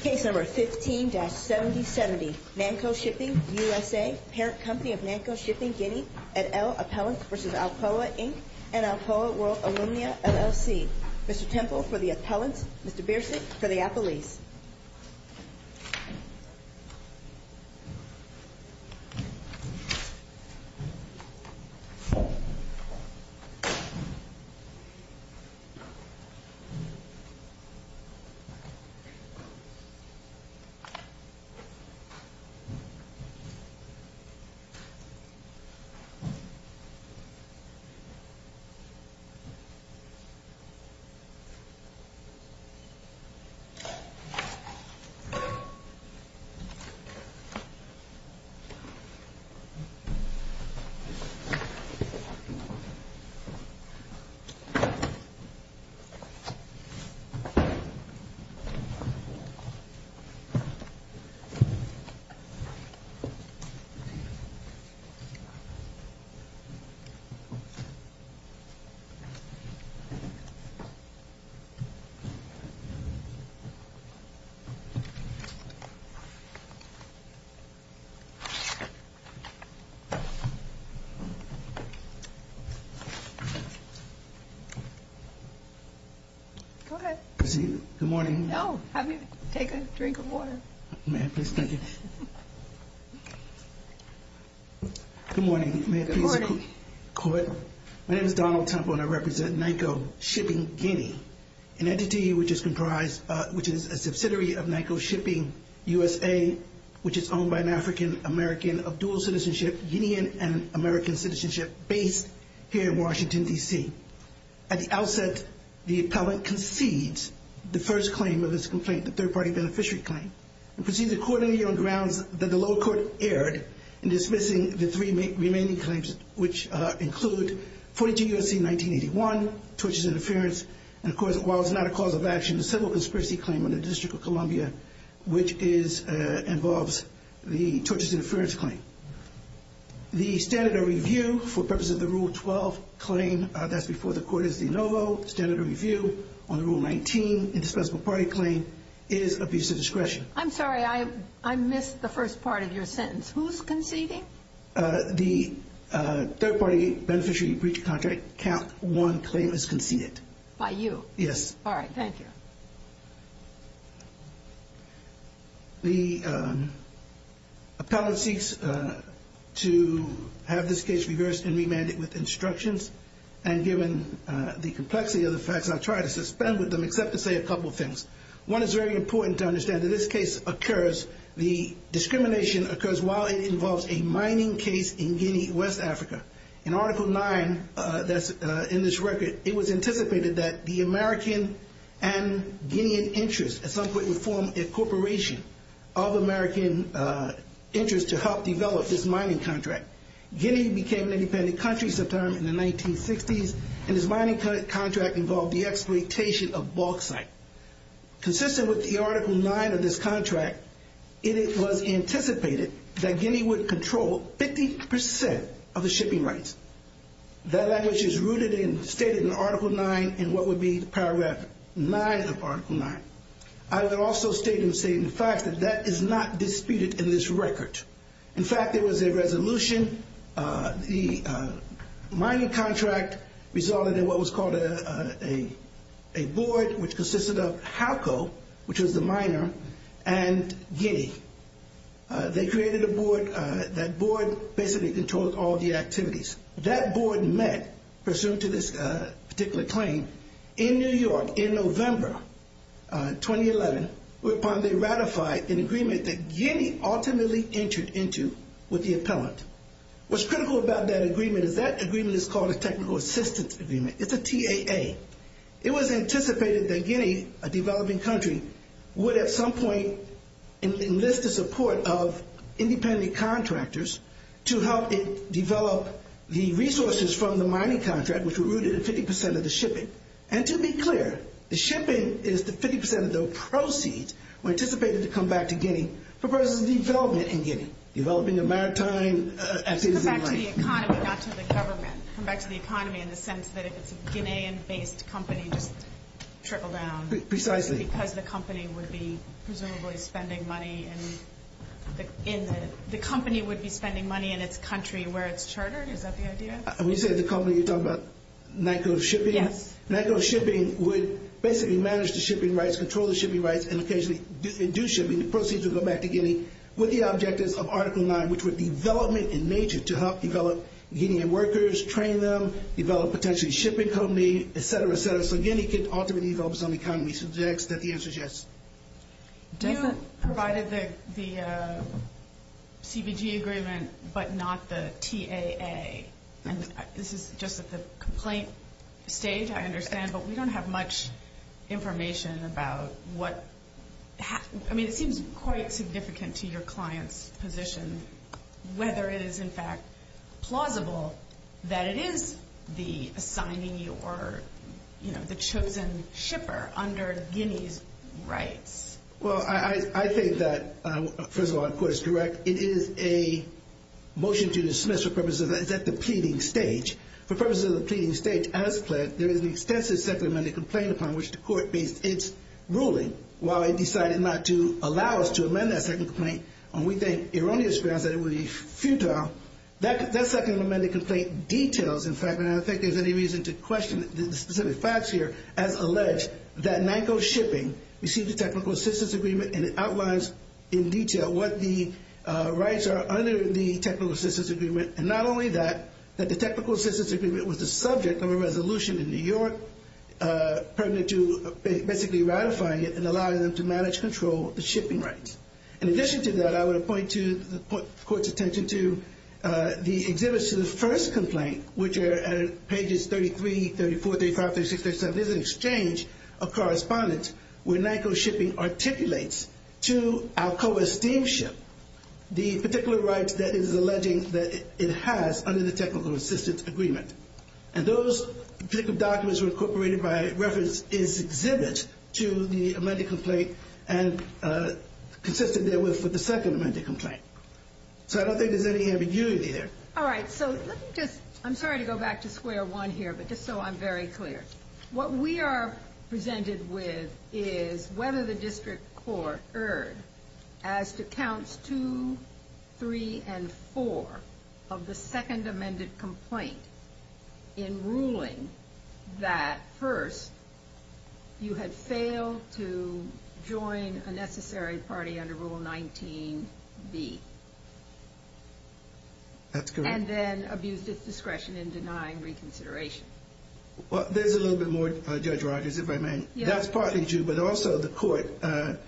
Case No. 15-7070, Nanko Shipping, USA, parent company of Nanko Shipping, Guinea, at L. Appellants v. Alcoa, Inc. and Alcoa World Alumna, LLC. Mr. Temple for the Appellants, Mr. Biersig for the Appellees. Case No. 15-7070, Nanko Shipping, USA, parent company of Nanko Shipping, Guinea, at L. Appellants v. Alcoa, Inc. Case No. 15-7070, Nanko Shipping, USA, parent company of Nanko Shipping, Guinea, at L. Appellants v. Alcoa, Inc. Good morning. No, have a drink of water. Good morning. Good morning. My name is Donald Temple and I represent Nanko Shipping, Guinea, an entity which is a subsidiary of Nanko Shipping, USA, which is owned by an African-American of dual citizenship, Guinean and American citizenship, based here in Washington, D.C. At the outset, the Appellant concedes the first claim of this complaint, the third-party beneficiary claim, and proceeds accordingly on grounds that the lower court erred in dismissing the three remaining claims, which include 42 U.S.C. 1981, Tortures Interference, and of course, while it's not a cause of action, a civil conspiracy claim on the District of Columbia, which involves the Tortures Interference claim. The standard of review for purposes of the Rule 12 claim that's before the court is de novo. Standard of review on the Rule 19 indispensable party claim is abuse of discretion. I'm sorry. I missed the first part of your sentence. Who's conceding? The third-party beneficiary breach of contract count one claim is conceded. By you? Yes. All right. Thank you. The Appellant seeks to have this case reversed and remanded with instructions, and given the complexity of the facts, I'll try to suspend with them except to say a couple of things. One is very important to understand. In this case, the discrimination occurs while it involves a mining case in Guinea, West Africa. In Article 9 that's in this record, it was anticipated that the American and Guinean interests at some point would form a corporation of American interests to help develop this mining contract. Guinea became an independent country sometime in the 1960s, and this mining contract involved the exploitation of bauxite. Consistent with the Article 9 of this contract, it was anticipated that Guinea would control 50% of the shipping rights. That language is rooted and stated in Article 9 in what would be the paragraph 9 of Article 9. I would also state and say, in fact, that that is not disputed in this record. In fact, there was a resolution. The mining contract resulted in what was called a board which consisted of HALCO, which was the miner, and Guinea. They created a board. That board basically controlled all the activities. That board met, pursuant to this particular claim, in New York in November 2011, whereupon they ratified an agreement that Guinea ultimately entered into with the appellant. What's critical about that agreement is that agreement is called a technical assistance agreement. It's a TAA. It was anticipated that Guinea, a developing country, would at some point enlist the support of independent contractors to help develop the resources from the mining contract, which were rooted in 50% of the shipping. And to be clear, the shipping is 50% of the proceeds were anticipated to come back to Guinea for purposes of development in Guinea, developing a maritime activity. Come back to the economy, not to the government. Come back to the economy in the sense that if it's a Guinean-based company, just trickle down. Precisely. Because the company would be presumably spending money in its country where it's chartered. Is that the idea? When you say the company, you're talking about NACO shipping? Yes. NACO shipping would basically manage the shipping rights, control the shipping rights, and occasionally induce shipping. The proceeds would go back to Guinea with the objectives of Article 9, which would be development in nature to help develop Guinean workers, train them, develop potentially a shipping company, et cetera, et cetera. So Guinea could ultimately develop its own economy. So the answer is yes. You provided the CBG agreement but not the TAA. This is just at the complaint stage, I understand, but we don't have much information about what – I mean, it seems quite significant to your client's position whether it is, in fact, plausible that it is the assignee or the chosen shipper under Guinea's rights. Well, I think that, first of all, the court is correct. It is a motion to dismiss for purposes of – it's at the pleading stage. For purposes of the pleading stage, as pledged, there is an extensive second amended complaint upon which the court based its ruling. While it decided not to allow us to amend that second complaint, we think erroneous grounds that it would be futile. That second amended complaint details, in fact, and I don't think there's any reason to question the specific facts here, as alleged, that Nyko Shipping received a technical assistance agreement, and it outlines in detail what the rights are under the technical assistance agreement. And not only that, that the technical assistance agreement was the subject of a resolution in New York, pertinent to basically ratifying it and allowing them to manage control of the shipping rights. In addition to that, I would point the court's attention to the exhibits to the first complaint, which are at pages 33, 34, 35, 36, 37. There's an exchange of correspondence where Nyko Shipping articulates to Alcoa Steamship the particular rights that it is alleging that it has under the technical assistance agreement. And those particular documents were incorporated by reference in its exhibit to the amended complaint and consistent therewith with the second amended complaint. So I don't think there's any ambiguity there. All right, so let me just, I'm sorry to go back to square one here, but just so I'm very clear. What we are presented with is whether the district court erred as to counts two, three, and four of the second amended complaint in ruling that first you had failed to join a necessary party under Rule 19B. That's correct. And then abused its discretion in denying reconsideration. Well, there's a little bit more, Judge Rogers, if I may. Yes. That's partly true, but also the court, though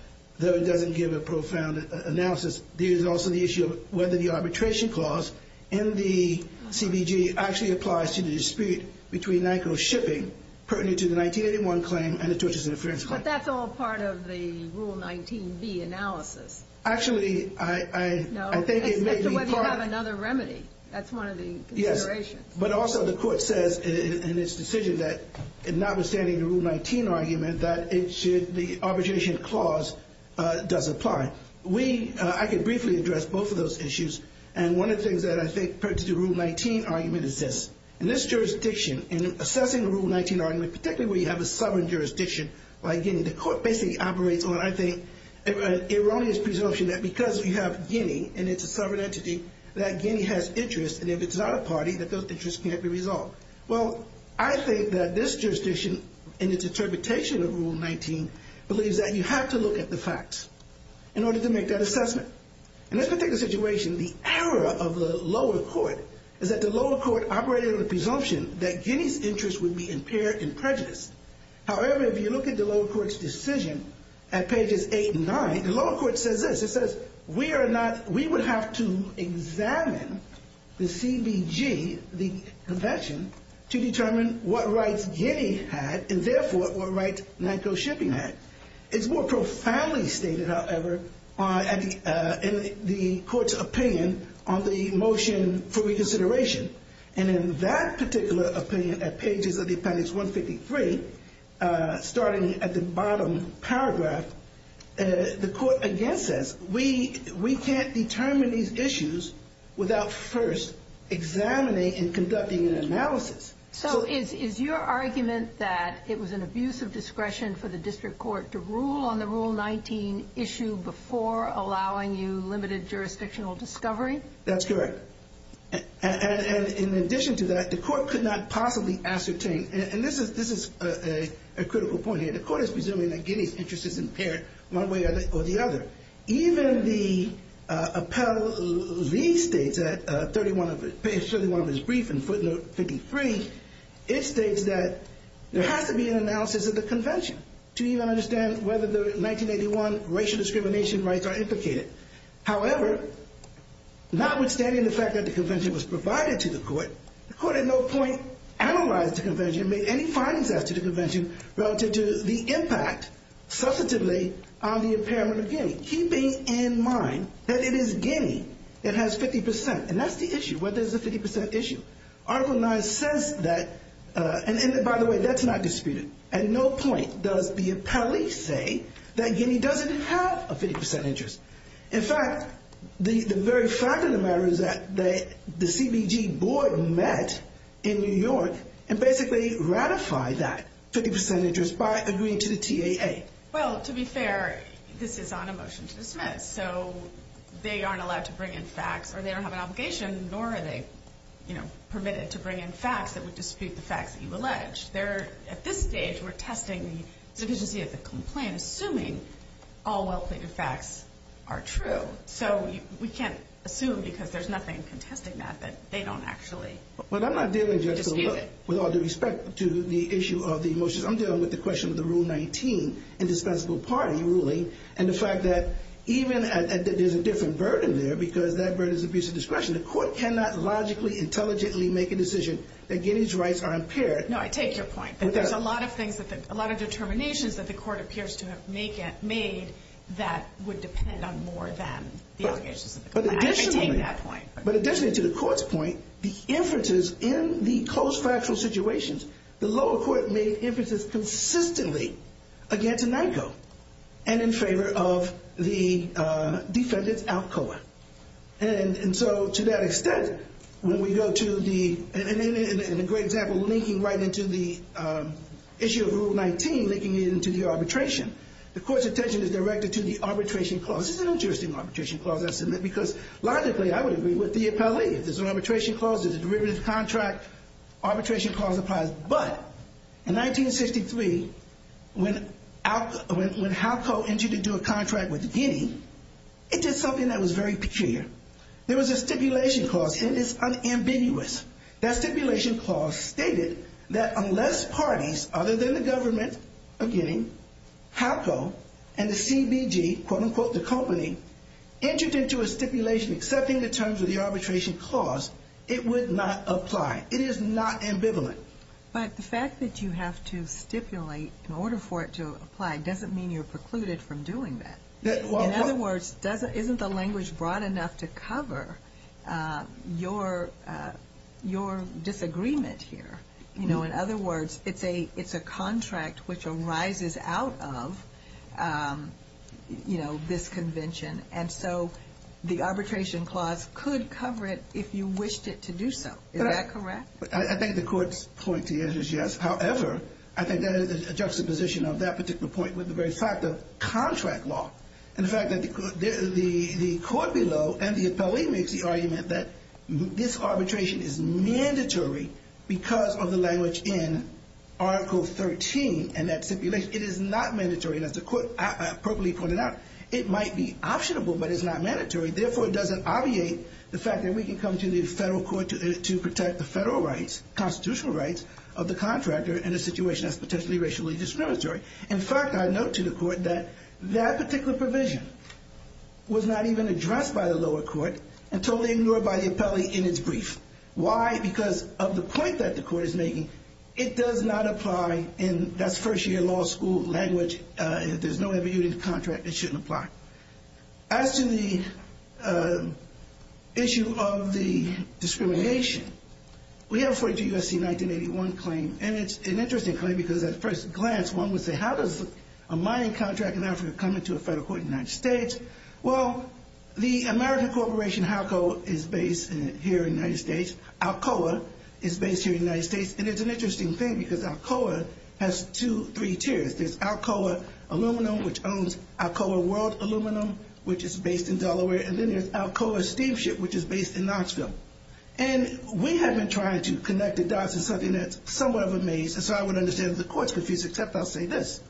it doesn't give a profound analysis, there is also the issue of whether the arbitration clause in the CBG actually applies to the dispute between Nyko Shipping, pertinent to the 1981 claim and the tortious interference claim. But that's all part of the Rule 19B analysis. Actually, I think it may be part. No, it's whether you have another remedy. That's one of the considerations. But also the court says in its decision that notwithstanding the Rule 19 argument that the arbitration clause does apply. I can briefly address both of those issues. And one of the things that I think pertains to the Rule 19 argument is this. In this jurisdiction, in assessing the Rule 19 argument, particularly where you have a sovereign jurisdiction like Guinea, the court basically operates on, I think, an erroneous presumption that because we have Guinea and it's a sovereign entity, that Guinea has interest. And if it's not a party, that those interests can't be resolved. Well, I think that this jurisdiction, in its interpretation of Rule 19, believes that you have to look at the facts in order to make that assessment. In this particular situation, the error of the lower court is that the lower court operated on the presumption that Guinea's interest would be impaired in prejudice. However, if you look at the lower court's decision at pages 8 and 9, the lower court says this. It says, we are not, we would have to examine the CBG, the convention, to determine what rights Guinea had and, therefore, what rights NACO shipping had. It's more profoundly stated, however, in the court's opinion on the motion for reconsideration. And in that particular opinion, at pages of the appendix 153, starting at the bottom paragraph, the court again says, we can't determine these issues without first examining and conducting an analysis. So is your argument that it was an abuse of discretion for the district court to rule on the Rule 19 issue before allowing you limited jurisdictional discovery? That's correct. And in addition to that, the court could not possibly ascertain, and this is a critical point here. The court is presuming that Guinea's interest is impaired one way or the other. Even the appellee states at 31 of his brief in footnote 53, it states that there has to be an analysis of the convention to even understand whether the 1981 racial discrimination rights are implicated. However, notwithstanding the fact that the convention was provided to the court, the court at no point analyzed the convention, made any findings as to the convention, relative to the impact, substantively, on the impairment of Guinea. Keeping in mind that it is Guinea that has 50%, and that's the issue, whether it's a 50% issue. Article 9 says that, and by the way, that's not disputed. At no point does the appellee say that Guinea doesn't have a 50% interest. In fact, the very fact of the matter is that the CBG board met in New York and basically ratified that 50% interest by agreeing to the TAA. Well, to be fair, this is on a motion to dismiss, so they aren't allowed to bring in facts, or they don't have an obligation, nor are they permitted to bring in facts that would dispute the facts that you've alleged. At this stage, we're testing the sufficiency of the complaint, assuming all well-plated facts are true. So we can't assume, because there's nothing contesting that, that they don't actually dispute it. But I'm not dealing just with all due respect to the issue of the motions. I'm dealing with the question of the Rule 19 indispensable party ruling, and the fact that even if there's a different burden there, because that burden is abuse of discretion, the court cannot logically, intelligently make a decision that Guinea's rights are impaired. No, I take your point. There's a lot of things, a lot of determinations that the court appears to have made that would depend on more than the allegations of the complaint. I take that point. But additionally, to the court's point, the inferences in the close factual situations, the lower court made inferences consistently against NICO and in favor of the defendant's ALCOA. And so to that extent, when we go to the, and a great example linking right into the issue of Rule 19, linking it into the arbitration, the court's attention is directed to the arbitration clause. This is an interesting arbitration clause, I submit, because logically, I would agree with the appellee. If there's an arbitration clause, there's a derivative contract. Arbitration clause applies. But in 1963, when ALCOA, when HALCO entered into a contract with Guinea, it did something that was very peculiar. There was a stipulation clause, and it's unambiguous. That stipulation clause stated that unless parties other than the government, again, HALCO, and the CBG, quote, unquote, the company, entered into a stipulation accepting the terms of the arbitration clause, it would not apply. It is not ambivalent. But the fact that you have to stipulate in order for it to apply doesn't mean you're precluded from doing that. In other words, isn't the language broad enough to cover your disagreement here? You know, in other words, it's a contract which arises out of, you know, this convention. And so the arbitration clause could cover it if you wished it to do so. Is that correct? I think the court's point to you is yes. However, I think that is a juxtaposition of that particular point with the very fact of contract law. And the fact that the court below and the appellee makes the argument that this arbitration is mandatory because of the language in Article 13 and that stipulation. It is not mandatory. And as the court appropriately pointed out, it might be optionable, but it's not mandatory. Therefore, it doesn't obviate the fact that we can come to the federal court to protect the federal rights, constitutional rights of the contractor in a situation that's potentially racially discriminatory. In fact, I note to the court that that particular provision was not even addressed by the lower court until they were ignored by the appellee in its brief. Why? Because of the point that the court is making, it does not apply in that first-year law school language. There's no ambiguity in the contract. It shouldn't apply. As to the issue of the discrimination, we have a 42 U.S.C. 1981 claim. And it's an interesting claim because at first glance, one would say, how does a mining contract in Africa come into a federal court in the United States? Well, the American corporation Halco is based here in the United States. Alcoa is based here in the United States. And it's an interesting thing because Alcoa has two, three tiers. There's Alcoa Aluminum, which owns Alcoa World Aluminum, which is based in Delaware. And then there's Alcoa Steamship, which is based in Knoxville. And we have been trying to connect the dots in something that's somewhat of a maze. And so I would understand that the court's confused, except I'll say this.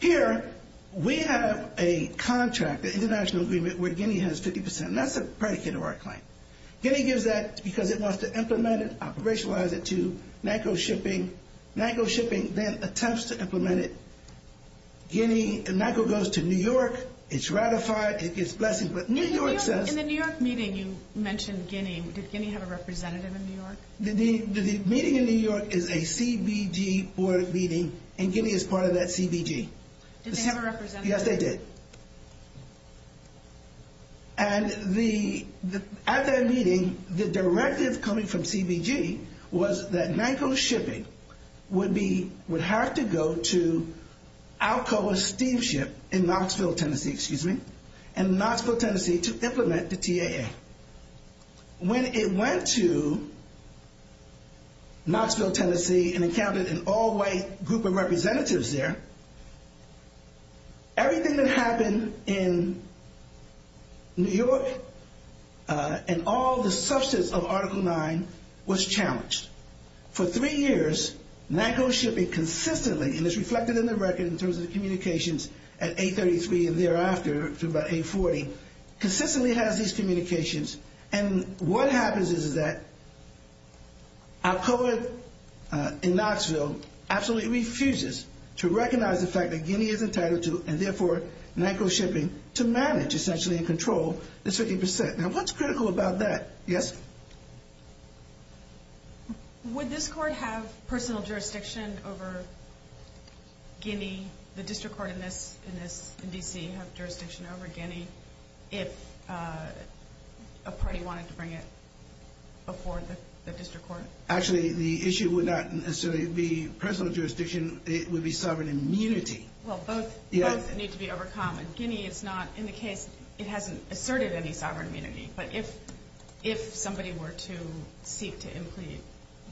Here, we have a contract, an international agreement, where Guinea has 50 percent. And that's a predicate of our claim. Guinea gives that because it wants to implement it, operationalize it to NACO shipping. NACO shipping then attempts to implement it. Guinea, NACO goes to New York. It's ratified. It gets blessing. But New York says— In the New York meeting, you mentioned Guinea. Did Guinea have a representative in New York? The meeting in New York is a CBG board meeting, and Guinea is part of that CBG. Did they have a representative? Yes, they did. And at that meeting, the directive coming from CBG was that NACO shipping would have to go to Alcoa Steamship in Knoxville, Tennessee, to implement the TAA. When it went to Knoxville, Tennessee, and it counted an all-white group of representatives there, everything that happened in New York and all the substance of Article 9 was challenged. For three years, NACO shipping consistently, and it's reflected in the record in terms of the communications at 833 and thereafter to about 840, consistently has these communications. And what happens is that Alcoa in Knoxville absolutely refuses to recognize the fact that Guinea is entitled to, and therefore NACO shipping, to manage, essentially, and control this 50%. Now, what's critical about that? Yes? Would this court have personal jurisdiction over Guinea? Would the district court in D.C. have jurisdiction over Guinea if a party wanted to bring it before the district court? Actually, the issue would not necessarily be personal jurisdiction. It would be sovereign immunity. Well, both need to be overcome. Guinea is not in the case. It hasn't asserted any sovereign immunity. But if somebody were to seek to implead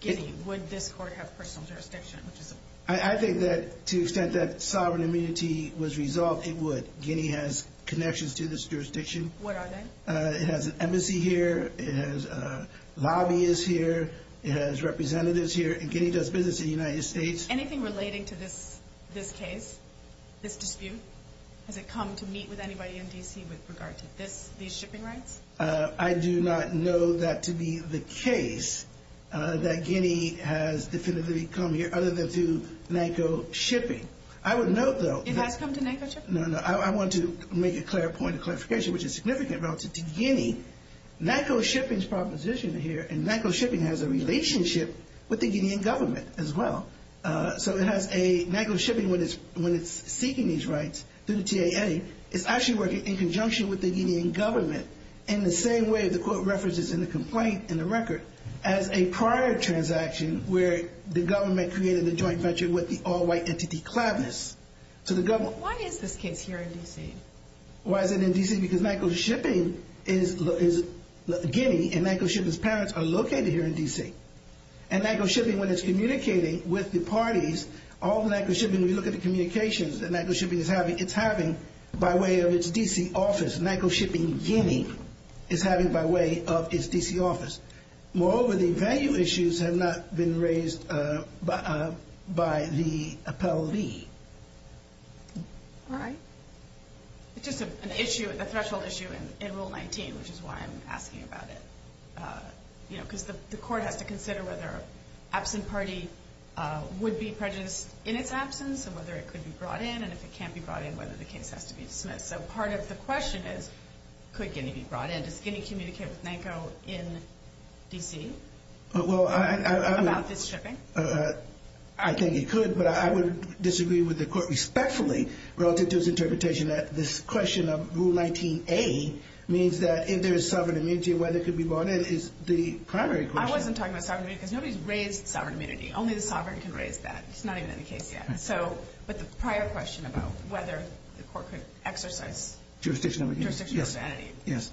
Guinea, would this court have personal jurisdiction? I think that to the extent that sovereign immunity was resolved, it would. Guinea has connections to this jurisdiction. What are they? It has an embassy here. It has lobbyists here. It has representatives here. And Guinea does business in the United States. Anything relating to this case, this dispute? Has it come to meet with anybody in D.C. with regard to these shipping rights? I do not know that to be the case, that Guinea has definitively come here, other than to NACO shipping. I would note, though. It has come to NACO shipping? No, no. I want to make a clear point of clarification, which is significant relative to Guinea. NACO shipping's proposition here, and NACO shipping has a relationship with the Guinean government as well. So NACO shipping, when it's seeking these rights through the TAA, is actually working in conjunction with the Guinean government, in the same way the court references in the complaint, in the record, as a prior transaction, where the government created a joint venture with the all-white entity, Clavis, to the government. Why is this case here in D.C.? Why is it in D.C.? Because NACO shipping is Guinea, and NACO shipping's parents are located here in D.C. And NACO shipping, when it's communicating with the parties, all the NACO shipping, when you look at the communications that NACO shipping is having, it's having by way of its D.C. office. NACO shipping, Guinea, is having by way of its D.C. office. Moreover, the value issues have not been raised by the appellee. All right. It's just an issue, a threshold issue in Rule 19, which is why I'm asking about it. Because the court has to consider whether an absent party would be prejudiced in its absence, and whether it could be brought in, and if it can't be brought in, whether the case has to be dismissed. So part of the question is, could Guinea be brought in? Does Guinea communicate with NACO in D.C. about this shipping? I think it could, but I would disagree with the court respectfully relative to its interpretation that this question of Rule 19A means that if there is sovereign immunity, whether it could be brought in is the primary question. I wasn't talking about sovereign immunity, because nobody's raised sovereign immunity. Only the sovereign can raise that. It's not even in the case yet. So, but the prior question about whether the court could exercise jurisdiction over NACO. Jurisdiction over NACO. Yes.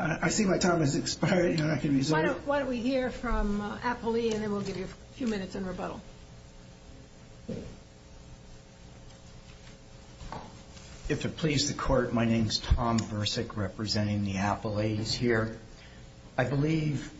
I see my time has expired, and I can resume. Why don't we hear from Apolli, and then we'll give you a few minutes in rebuttal. If it pleases the court, my name is Tom Bursick, representing the Apollis here. I believe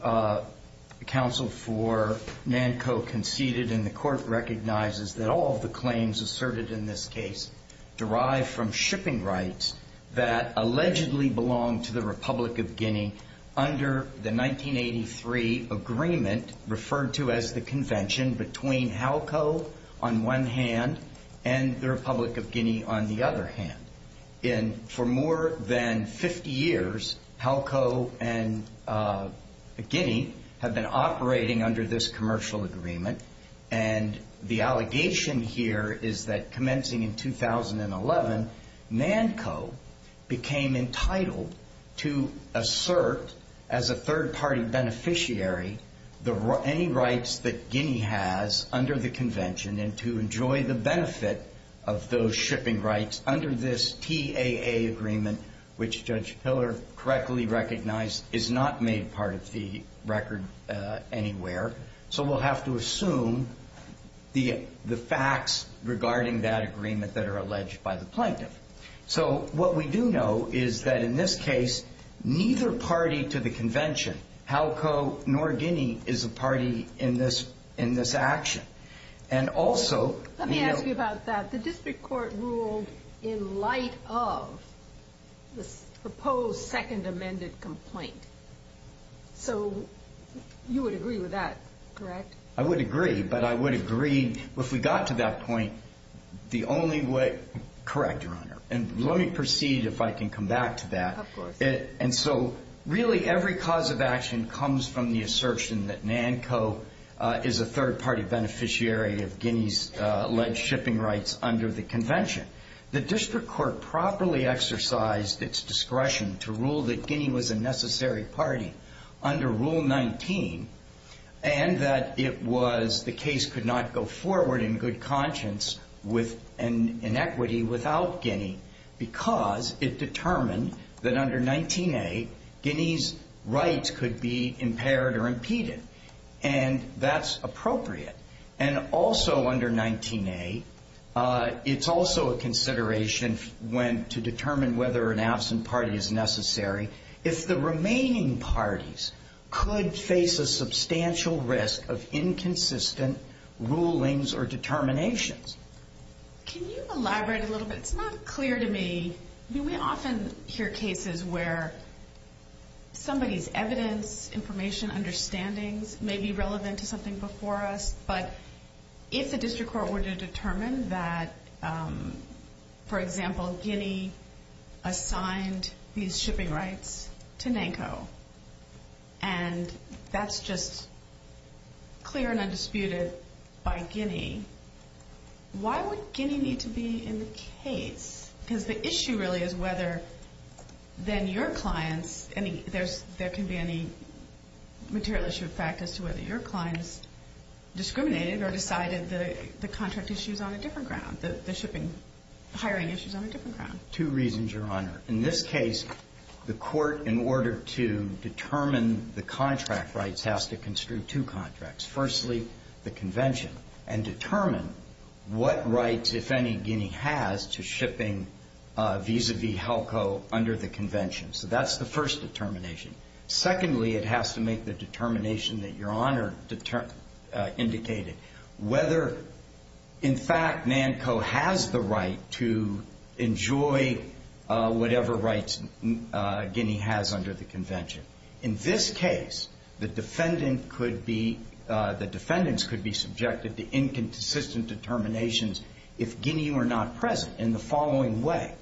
counsel for NACO conceded, and the court recognizes that all of the claims asserted in this case derive from shipping rights that allegedly belong to the Republic of Guinea under the 1983 agreement referred to as the convention between HALCO on one hand and the Republic of Guinea on the other hand. And for more than 50 years, HALCO and Guinea have been operating under this commercial agreement, and the allegation here is that commencing in 2011, NACO became entitled to assert as a third-party beneficiary any rights that Guinea has under the convention and to enjoy the benefit of those shipping rights under this TAA agreement, which Judge Piller correctly recognized is not made part of the record anywhere. So we'll have to assume the facts regarding that agreement that are alleged by the plaintiff. So what we do know is that in this case, neither party to the convention, HALCO nor Guinea, is a party in this action. Let me ask you about that. The district court ruled in light of the proposed second amended complaint. So you would agree with that, correct? I would agree, but I would agree, if we got to that point, the only way- Correct, Your Honor, and let me proceed if I can come back to that. Of course. And so really every cause of action comes from the assertion that NACO is a third-party beneficiary of Guinea's alleged shipping rights under the convention. The district court properly exercised its discretion to rule that Guinea was a necessary party under Rule 19, and that it was the case could not go forward in good conscience with an inequity without Guinea because it determined that under 19A, Guinea's rights could be impaired or impeded, and that's appropriate. And also under 19A, it's also a consideration to determine whether an absent party is necessary if the remaining parties could face a substantial risk of inconsistent rulings or determinations. Can you elaborate a little bit? It's not clear to me. We often hear cases where somebody's evidence, information, understandings may be relevant to something before us, but if the district court were to determine that, for example, Guinea assigned these shipping rights to NACO, and that's just clear and undisputed by Guinea, why would Guinea need to be in the case? Because the issue really is whether then your clients any – there can be any material issue of fact as to whether your clients discriminated or decided the contract issue is on a different ground, the hiring issue is on a different ground. Two reasons, Your Honor. In this case, the court, in order to determine the contract rights, has to construe two contracts. Firstly, the convention, and determine what rights, if any, Guinea has to shipping vis-à-vis HELCO under the convention. So that's the first determination. Secondly, it has to make the determination that Your Honor indicated, whether in fact NANCO has the right to enjoy whatever rights Guinea has under the convention. In this case, the defendant could be – the defendants could be subjected to inconsistent determinations if Guinea were not present in the following way.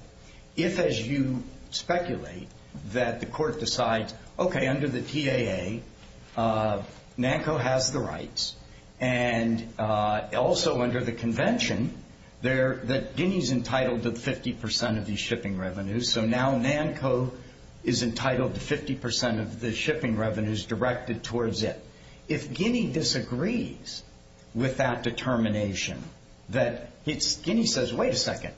If, as you speculate, that the court decides, okay, under the TAA, NANCO has the rights, and also under the convention, that Guinea's entitled to 50% of these shipping revenues, so now NANCO is entitled to 50% of the shipping revenues directed towards it. If Guinea disagrees with that determination, that it's – Guinea says, wait a second.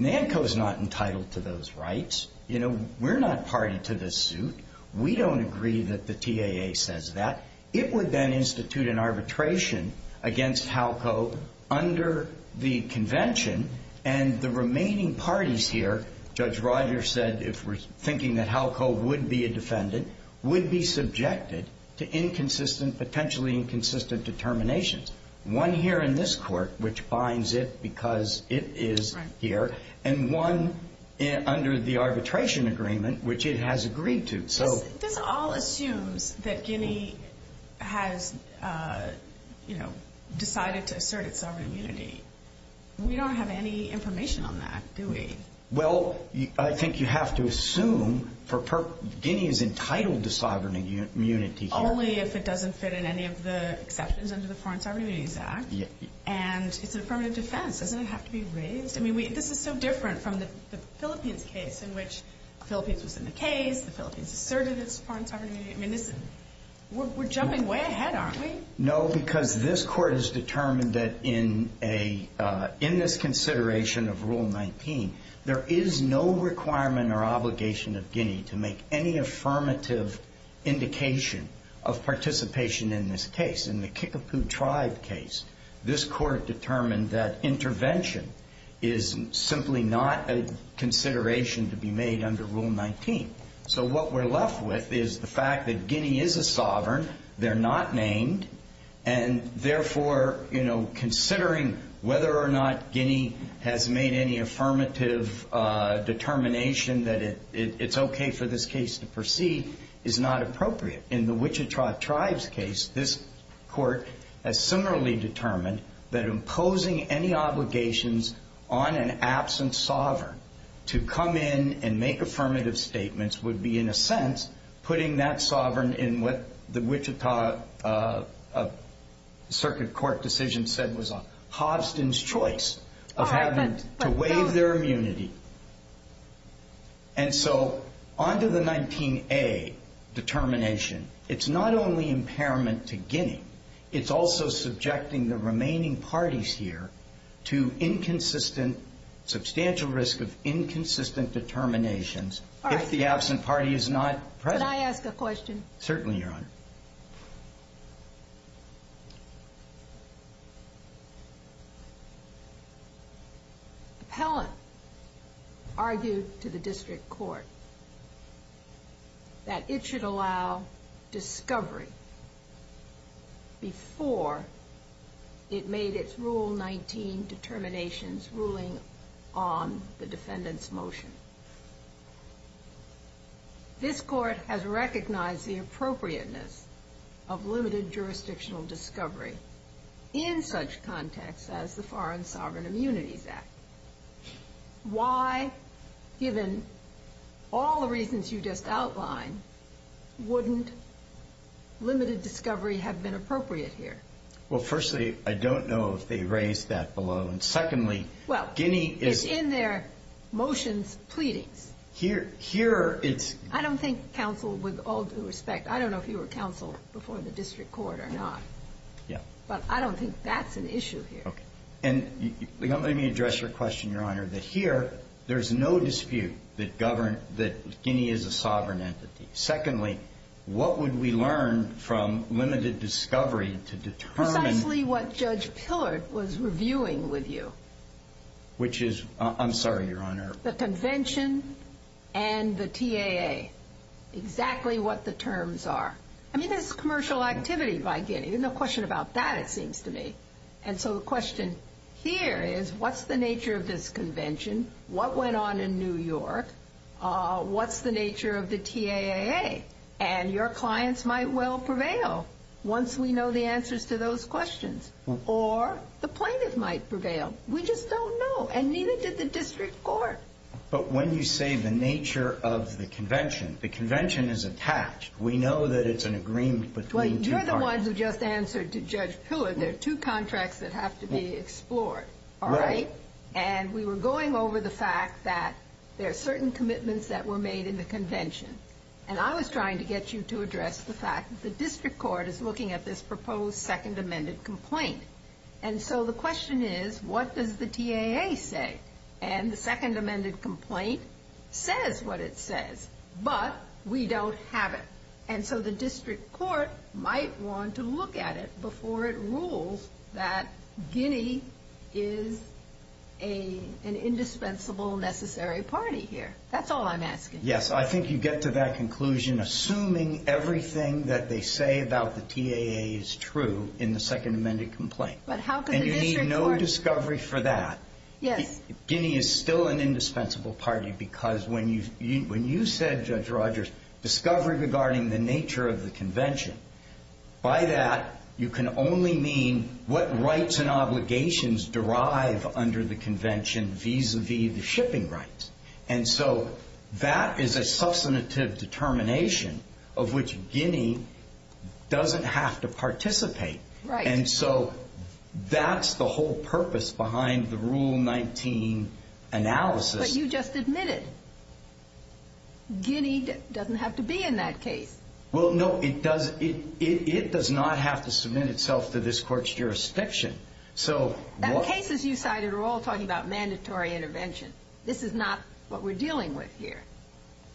NANCO is not entitled to those rights. You know, we're not party to this suit. We don't agree that the TAA says that. It would then institute an arbitration against HELCO under the convention, and the remaining parties here, Judge Rogers said, if we're thinking that HELCO would be a defendant, would be subjected to inconsistent, potentially inconsistent determinations. One here in this court, which binds it because it is here, and one under the arbitration agreement, which it has agreed to. This all assumes that Guinea has, you know, decided to assert its sovereign immunity. We don't have any information on that, do we? Well, I think you have to assume for – Guinea is entitled to sovereign immunity here. Only if it doesn't fit in any of the exceptions under the Foreign Sovereign Immunities Act, and it's a permanent defense. Doesn't it have to be raised? I mean, this is so different from the Philippines case, in which the Philippines was in the case, the Philippines asserted its foreign sovereign immunity. I mean, this is – we're jumping way ahead, aren't we? No, because this court has determined that in a – in this consideration of Rule 19, there is no requirement or obligation of Guinea to make any affirmative indication of participation in this case. In the Kickapoo Tribe case, this court determined that intervention is simply not a consideration to be made under Rule 19. So what we're left with is the fact that Guinea is a sovereign, they're not named, and therefore, you know, considering whether or not Guinea has made any affirmative determination that it's okay for this case to proceed is not appropriate. In the Wichita Tribes case, this court has similarly determined that imposing any obligations on an absent sovereign to come in and make affirmative statements would be, in a sense, putting that sovereign in what the Wichita Circuit Court decision said was Hobson's choice of having to waive their immunity. And so onto the 19A determination, it's not only impairment to Guinea, it's also subjecting the remaining parties here to inconsistent – substantial risk of inconsistent determinations if the absent party is not present. Can I ask a question? Certainly, Your Honor. Appellant argued to the district court that it should allow discovery before it made its Rule 19 determinations ruling on the defendant's motion. This court has recognized the appropriateness of limited jurisdictional discovery in such contexts as the Foreign Sovereign Immunities Act. Why, given all the reasons you just outlined, wouldn't limited discovery have been appropriate here? Well, firstly, I don't know if they raised that below. And secondly, Guinea is – Well, it's in their motions' pleadings. Here, it's – I don't think counsel would – all due respect, I don't know if you were counsel before the district court or not. Yeah. But I don't think that's an issue here. Okay. And let me address your question, Your Honor, that here, there's no dispute that Guinea is a sovereign entity. Secondly, what would we learn from limited discovery to determine – Which is – I'm sorry, Your Honor. The convention and the TAA, exactly what the terms are. I mean, there's commercial activity by Guinea. There's no question about that, it seems to me. And so the question here is, what's the nature of this convention? What went on in New York? What's the nature of the TAA? And your clients might well prevail once we know the answers to those questions. Or the plaintiff might prevail. We just don't know. And neither did the district court. But when you say the nature of the convention, the convention is attached. We know that it's an agreement between two parties. Well, you're the ones who just answered to Judge Pillar. There are two contracts that have to be explored, all right? Right. And we were going over the fact that there are certain commitments that were made in the convention. And I was trying to get you to address the fact that the district court is looking at this proposed second amended complaint. And so the question is, what does the TAA say? And the second amended complaint says what it says. But we don't have it. And so the district court might want to look at it before it rules that Guinea is an indispensable, necessary party here. That's all I'm asking. Yes, I think you get to that conclusion assuming everything that they say about the TAA is true in the second amended complaint. And you need no discovery for that. Guinea is still an indispensable party because when you said, Judge Rogers, discovery regarding the nature of the convention, by that you can only mean what rights and obligations derive under the convention vis-a-vis the shipping rights. And so that is a substantive determination of which Guinea doesn't have to participate. Right. And so that's the whole purpose behind the Rule 19 analysis. But you just admitted Guinea doesn't have to be in that case. Well, no, it does not have to submit itself to this court's jurisdiction. The cases you cited are all talking about mandatory intervention. This is not what we're dealing with here.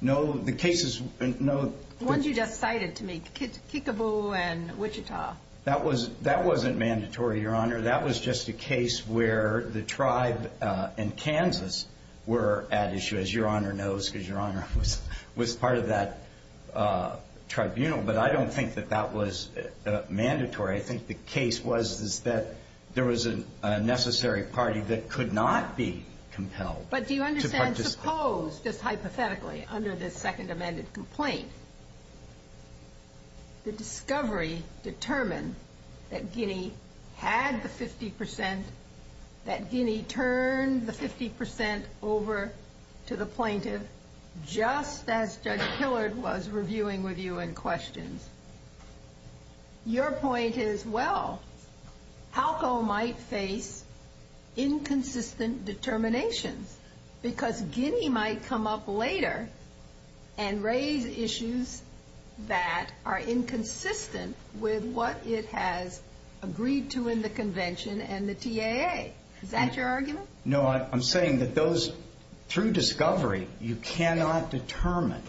No, the cases, no. The ones you just cited to me, Kickapoo and Wichita. That wasn't mandatory, Your Honor. That was just a case where the tribe in Kansas were at issue, as Your Honor knows, because Your Honor was part of that tribunal. But I don't think that that was mandatory. I think the case was that there was a necessary party that could not be compelled to participate. But do you understand, suppose, just hypothetically, under this second amended complaint, the discovery determined that Guinea had the 50 percent, that Guinea turned the 50 percent over to the plaintiff, just as Judge Hillard was reviewing with you in questions. Your point is, well, HALCO might face inconsistent determinations because Guinea might come up later and raise issues that are inconsistent with what it has agreed to in the convention and the TAA. Is that your argument? No, I'm saying that those, through discovery, you cannot determine,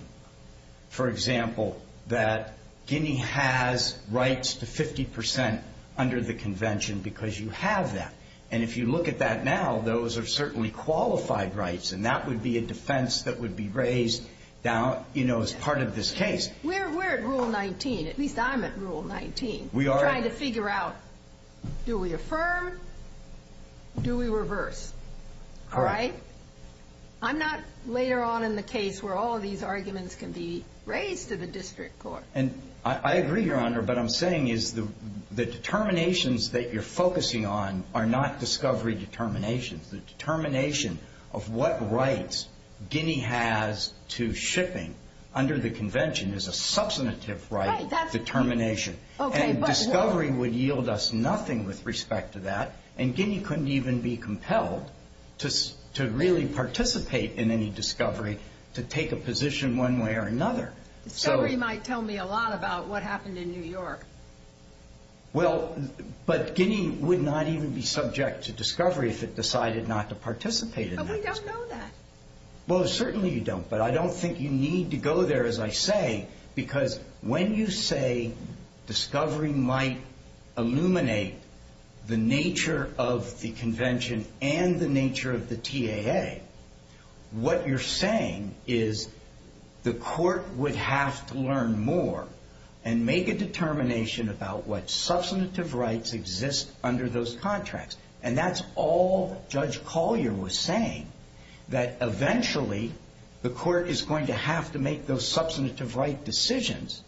for example, that Guinea has rights to 50 percent under the convention because you have that. And if you look at that now, those are certainly qualified rights, and that would be a defense that would be raised down, you know, as part of this case. We're at Rule 19. At least I'm at Rule 19. We are. We're trying to figure out, do we affirm, do we reverse, all right? I'm not later on in the case where all of these arguments can be raised to the district court. And I agree, Your Honor, but I'm saying is the determinations that you're focusing on are not discovery determinations. The determination of what rights Guinea has to shipping under the convention is a substantive right determination. And discovery would yield us nothing with respect to that, and Guinea couldn't even be compelled to really participate in any discovery to take a position one way or another. Discovery might tell me a lot about what happened in New York. Well, but Guinea would not even be subject to discovery if it decided not to participate in that discovery. But we don't know that. Well, certainly you don't, but I don't think you need to go there, as I say, because when you say discovery might illuminate the nature of the convention and the nature of the TAA, what you're saying is the court would have to learn more and make a determination about what substantive rights exist under those contracts. And that's all Judge Collier was saying, that eventually the court is going to have to make those substantive right decisions.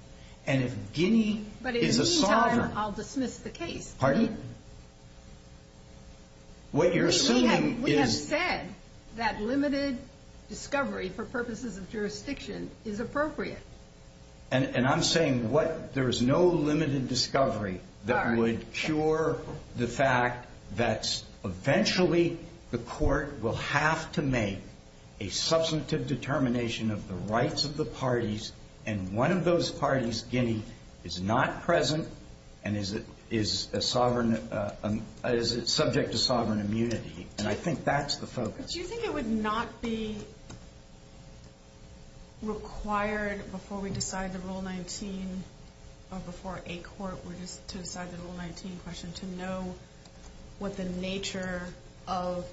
And if Guinea is a sovereign... But in the meantime, I'll dismiss the case. Pardon? What you're assuming is... We have said that limited discovery for purposes of jurisdiction is appropriate. And I'm saying there is no limited discovery that would cure the fact that eventually the court will have to make a substantive determination of the rights of the parties, and one of those parties, Guinea, is not present and is subject to sovereign immunity. And I think that's the focus. But do you think it would not be required before we decide the Rule 19, or before a court were to decide the Rule 19 question, to know what the nature of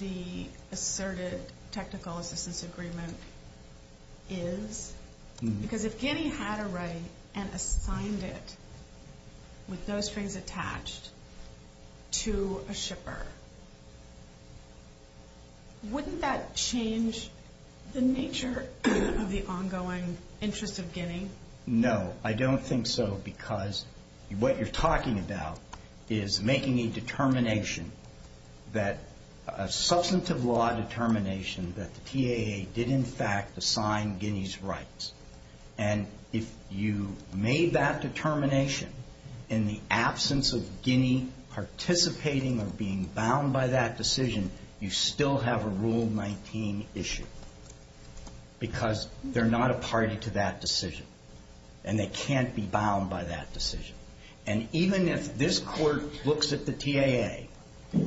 the asserted technical assistance agreement is? Because if Guinea had a right and assigned it, with those strings attached, to a shipper, wouldn't that change the nature of the ongoing interest of Guinea? No, I don't think so, because what you're talking about is making a determination, a substantive law determination, that the TAA did in fact assign Guinea's rights. And if you made that determination in the absence of Guinea participating or being bound by that decision, you still have a Rule 19 issue, because they're not a party to that decision. And they can't be bound by that decision. And even if this court looks at the TAA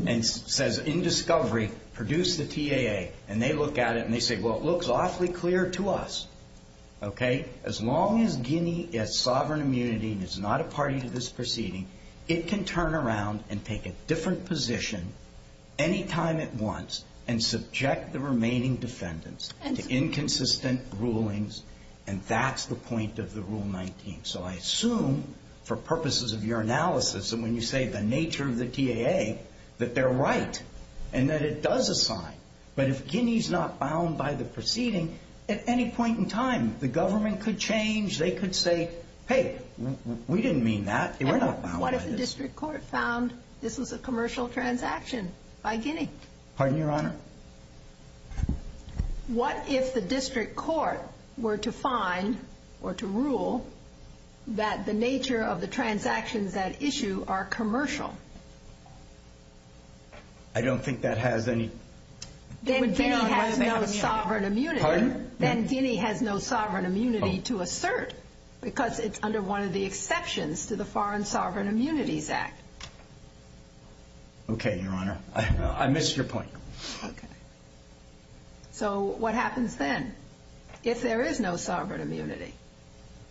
and says, in discovery, produce the TAA, and they look at it and they say, well, it looks awfully clear to us, okay, as long as Guinea has sovereign immunity and is not a party to this proceeding, it can turn around and take a different position any time it wants and subject the remaining defendants to inconsistent rulings, and that's the point of the Rule 19. So I assume, for purposes of your analysis and when you say the nature of the TAA, that they're right and that it does assign. But if Guinea's not bound by the proceeding, at any point in time, the government could change. They could say, hey, we didn't mean that. We're not bound by this. And what if the district court found this was a commercial transaction by Guinea? Pardon, Your Honor? What if the district court were to find or to rule that the nature of the transactions at issue are commercial? I don't think that has any – Then Guinea has no sovereign immunity. Then Guinea has no sovereign immunity to assert because it's under one of the exceptions to the Foreign Sovereign Immunities Act. Okay, Your Honor. I missed your point. Okay. So what happens then if there is no sovereign immunity?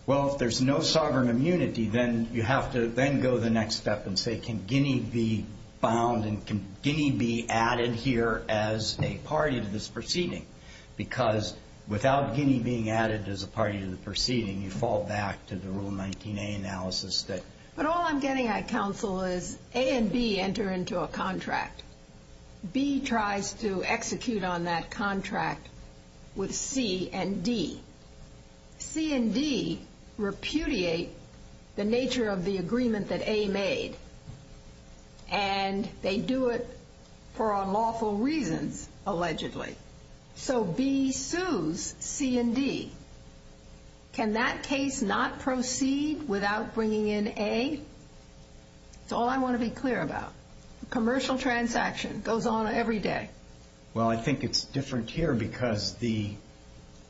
Well, if there's no sovereign immunity, then you have to then go the next step and say can Guinea be bound and can Guinea be added here as a party to this proceeding? Because without Guinea being added as a party to the proceeding, you fall back to the Rule 19A analysis that – But all I'm getting at, counsel, is A and B enter into a contract. B tries to execute on that contract with C and D. C and D repudiate the nature of the agreement that A made, and they do it for unlawful reasons, allegedly. So B sues C and D. Can that case not proceed without bringing in A? It's all I want to be clear about. Commercial transaction goes on every day. Well, I think it's different here because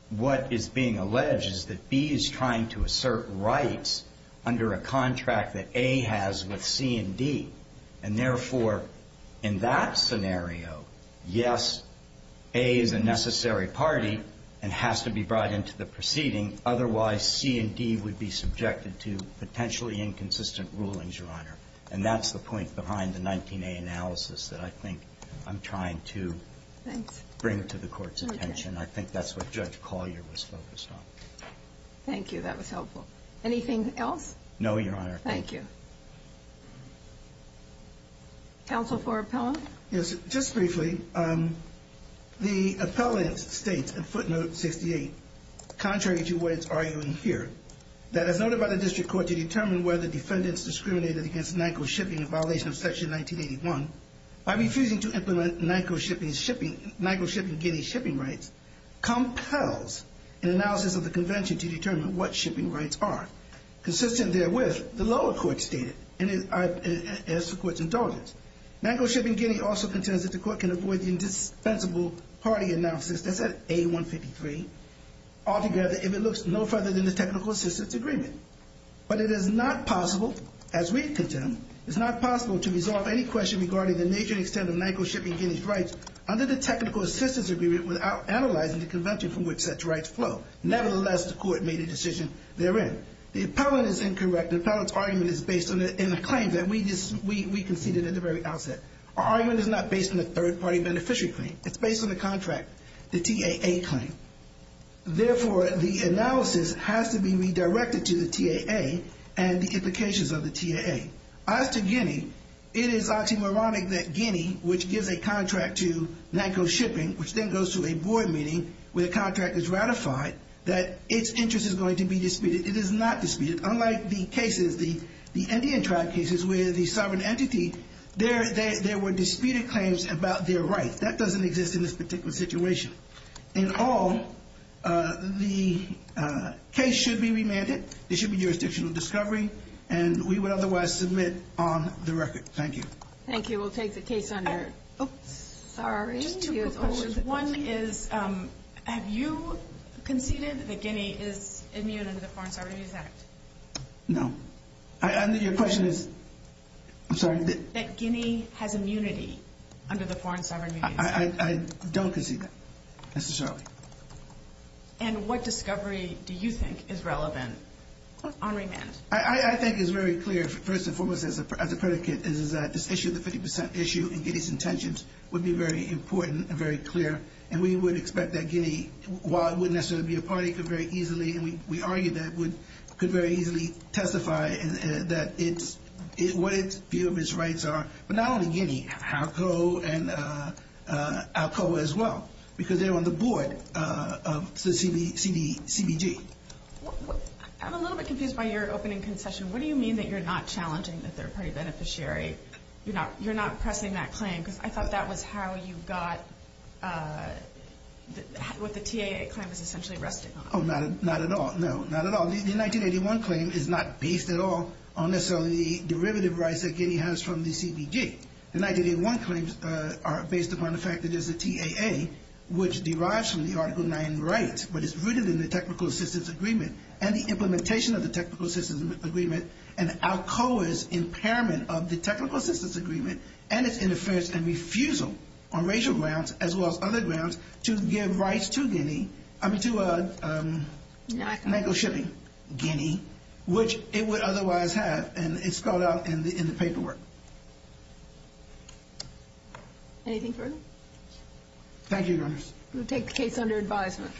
what is being alleged is that B is trying to assert rights under a contract that A has with C and D. And therefore, in that scenario, yes, A is a necessary party and has to be brought into the proceeding. Otherwise, C and D would be subjected to potentially inconsistent rulings, Your Honor. And that's the point behind the 19A analysis that I think I'm trying to bring to the Court's attention. I think that's what Judge Collier was focused on. Thank you. That was helpful. Anything else? No, Your Honor. Thank you. Counsel for Appellant? Yes. Just briefly, the appellant states in footnote 68, contrary to what it's arguing here, that as noted by the district court to determine whether defendants discriminated against Nyko Shipping in violation of Section 1981, by refusing to implement Nyko Shipping Guinea's shipping rights, compels an analysis of the convention to determine what shipping rights are. Consistent therewith, the lower court stated, as the Court's indulgence, Nyko Shipping Guinea also contends that the Court can avoid the indispensable party analysis, that's at A153, altogether if it looks no further than the technical assistance agreement. But it is not possible, as we contend, it's not possible to resolve any question regarding the nature and extent of Nyko Shipping Guinea's rights under the technical assistance agreement without analyzing the convention from which such rights flow. Nevertheless, the Court made a decision therein. The appellant is incorrect. The appellant's argument is based on a claim that we conceded at the very outset. Our argument is not based on a third-party beneficiary claim. It's based on the contract, the TAA claim. Therefore, the analysis has to be redirected to the TAA and the implications of the TAA. As to Guinea, it is oxymoronic that Guinea, which gives a contract to Nyko Shipping, which then goes to a board meeting where the contract is ratified, that its interest is going to be disputed. It is not disputed. Unlike the cases, the Indian tribe cases, where the sovereign entity, there were disputed claims about their rights. That doesn't exist in this particular situation. In all, the case should be remanded. There should be jurisdictional discovery, and we would otherwise submit on the record. Thank you. Thank you. We'll take the case under. Oops. Sorry. Just two quick questions. One is, have you conceded that Guinea is immune under the Foreign Sovereign Use Act? No. Your question is? I'm sorry. That Guinea has immunity under the Foreign Sovereign Use Act. I don't concede that, necessarily. And what discovery do you think is relevant on remand? I think it's very clear, first and foremost, as a predicate, is that this issue, the 50% issue in Guinea's intentions, would be very important and very clear, and we would expect that Guinea, while it wouldn't necessarily be a party, could very easily, and we argue that it could very easily testify that what its view of its rights are, but not only Guinea, Alcoa as well, because they're on the board of the CBG. I'm a little bit confused by your opening concession. What do you mean that you're not challenging the third-party beneficiary? You're not pressing that claim, because I thought that was how you got what the TAA claim was essentially resting on. Oh, not at all. No, not at all. The 1981 claim is not based at all on, necessarily, the derivative rights that Guinea has from the CBG. The 1981 claims are based upon the fact that there's a TAA, which derives from the Article 9 rights, but it's rooted in the Technical Assistance Agreement and the implementation of the Technical Assistance Agreement and Alcoa's impairment of the Technical Assistance Agreement and its interference and refusal on racial grounds as well as other grounds to give rights to Guinea, I mean to NACO shipping, Guinea, which it would otherwise have, and it's spelled out in the paperwork. Anything further? Thank you, Your Honors. We'll take the case under advisement.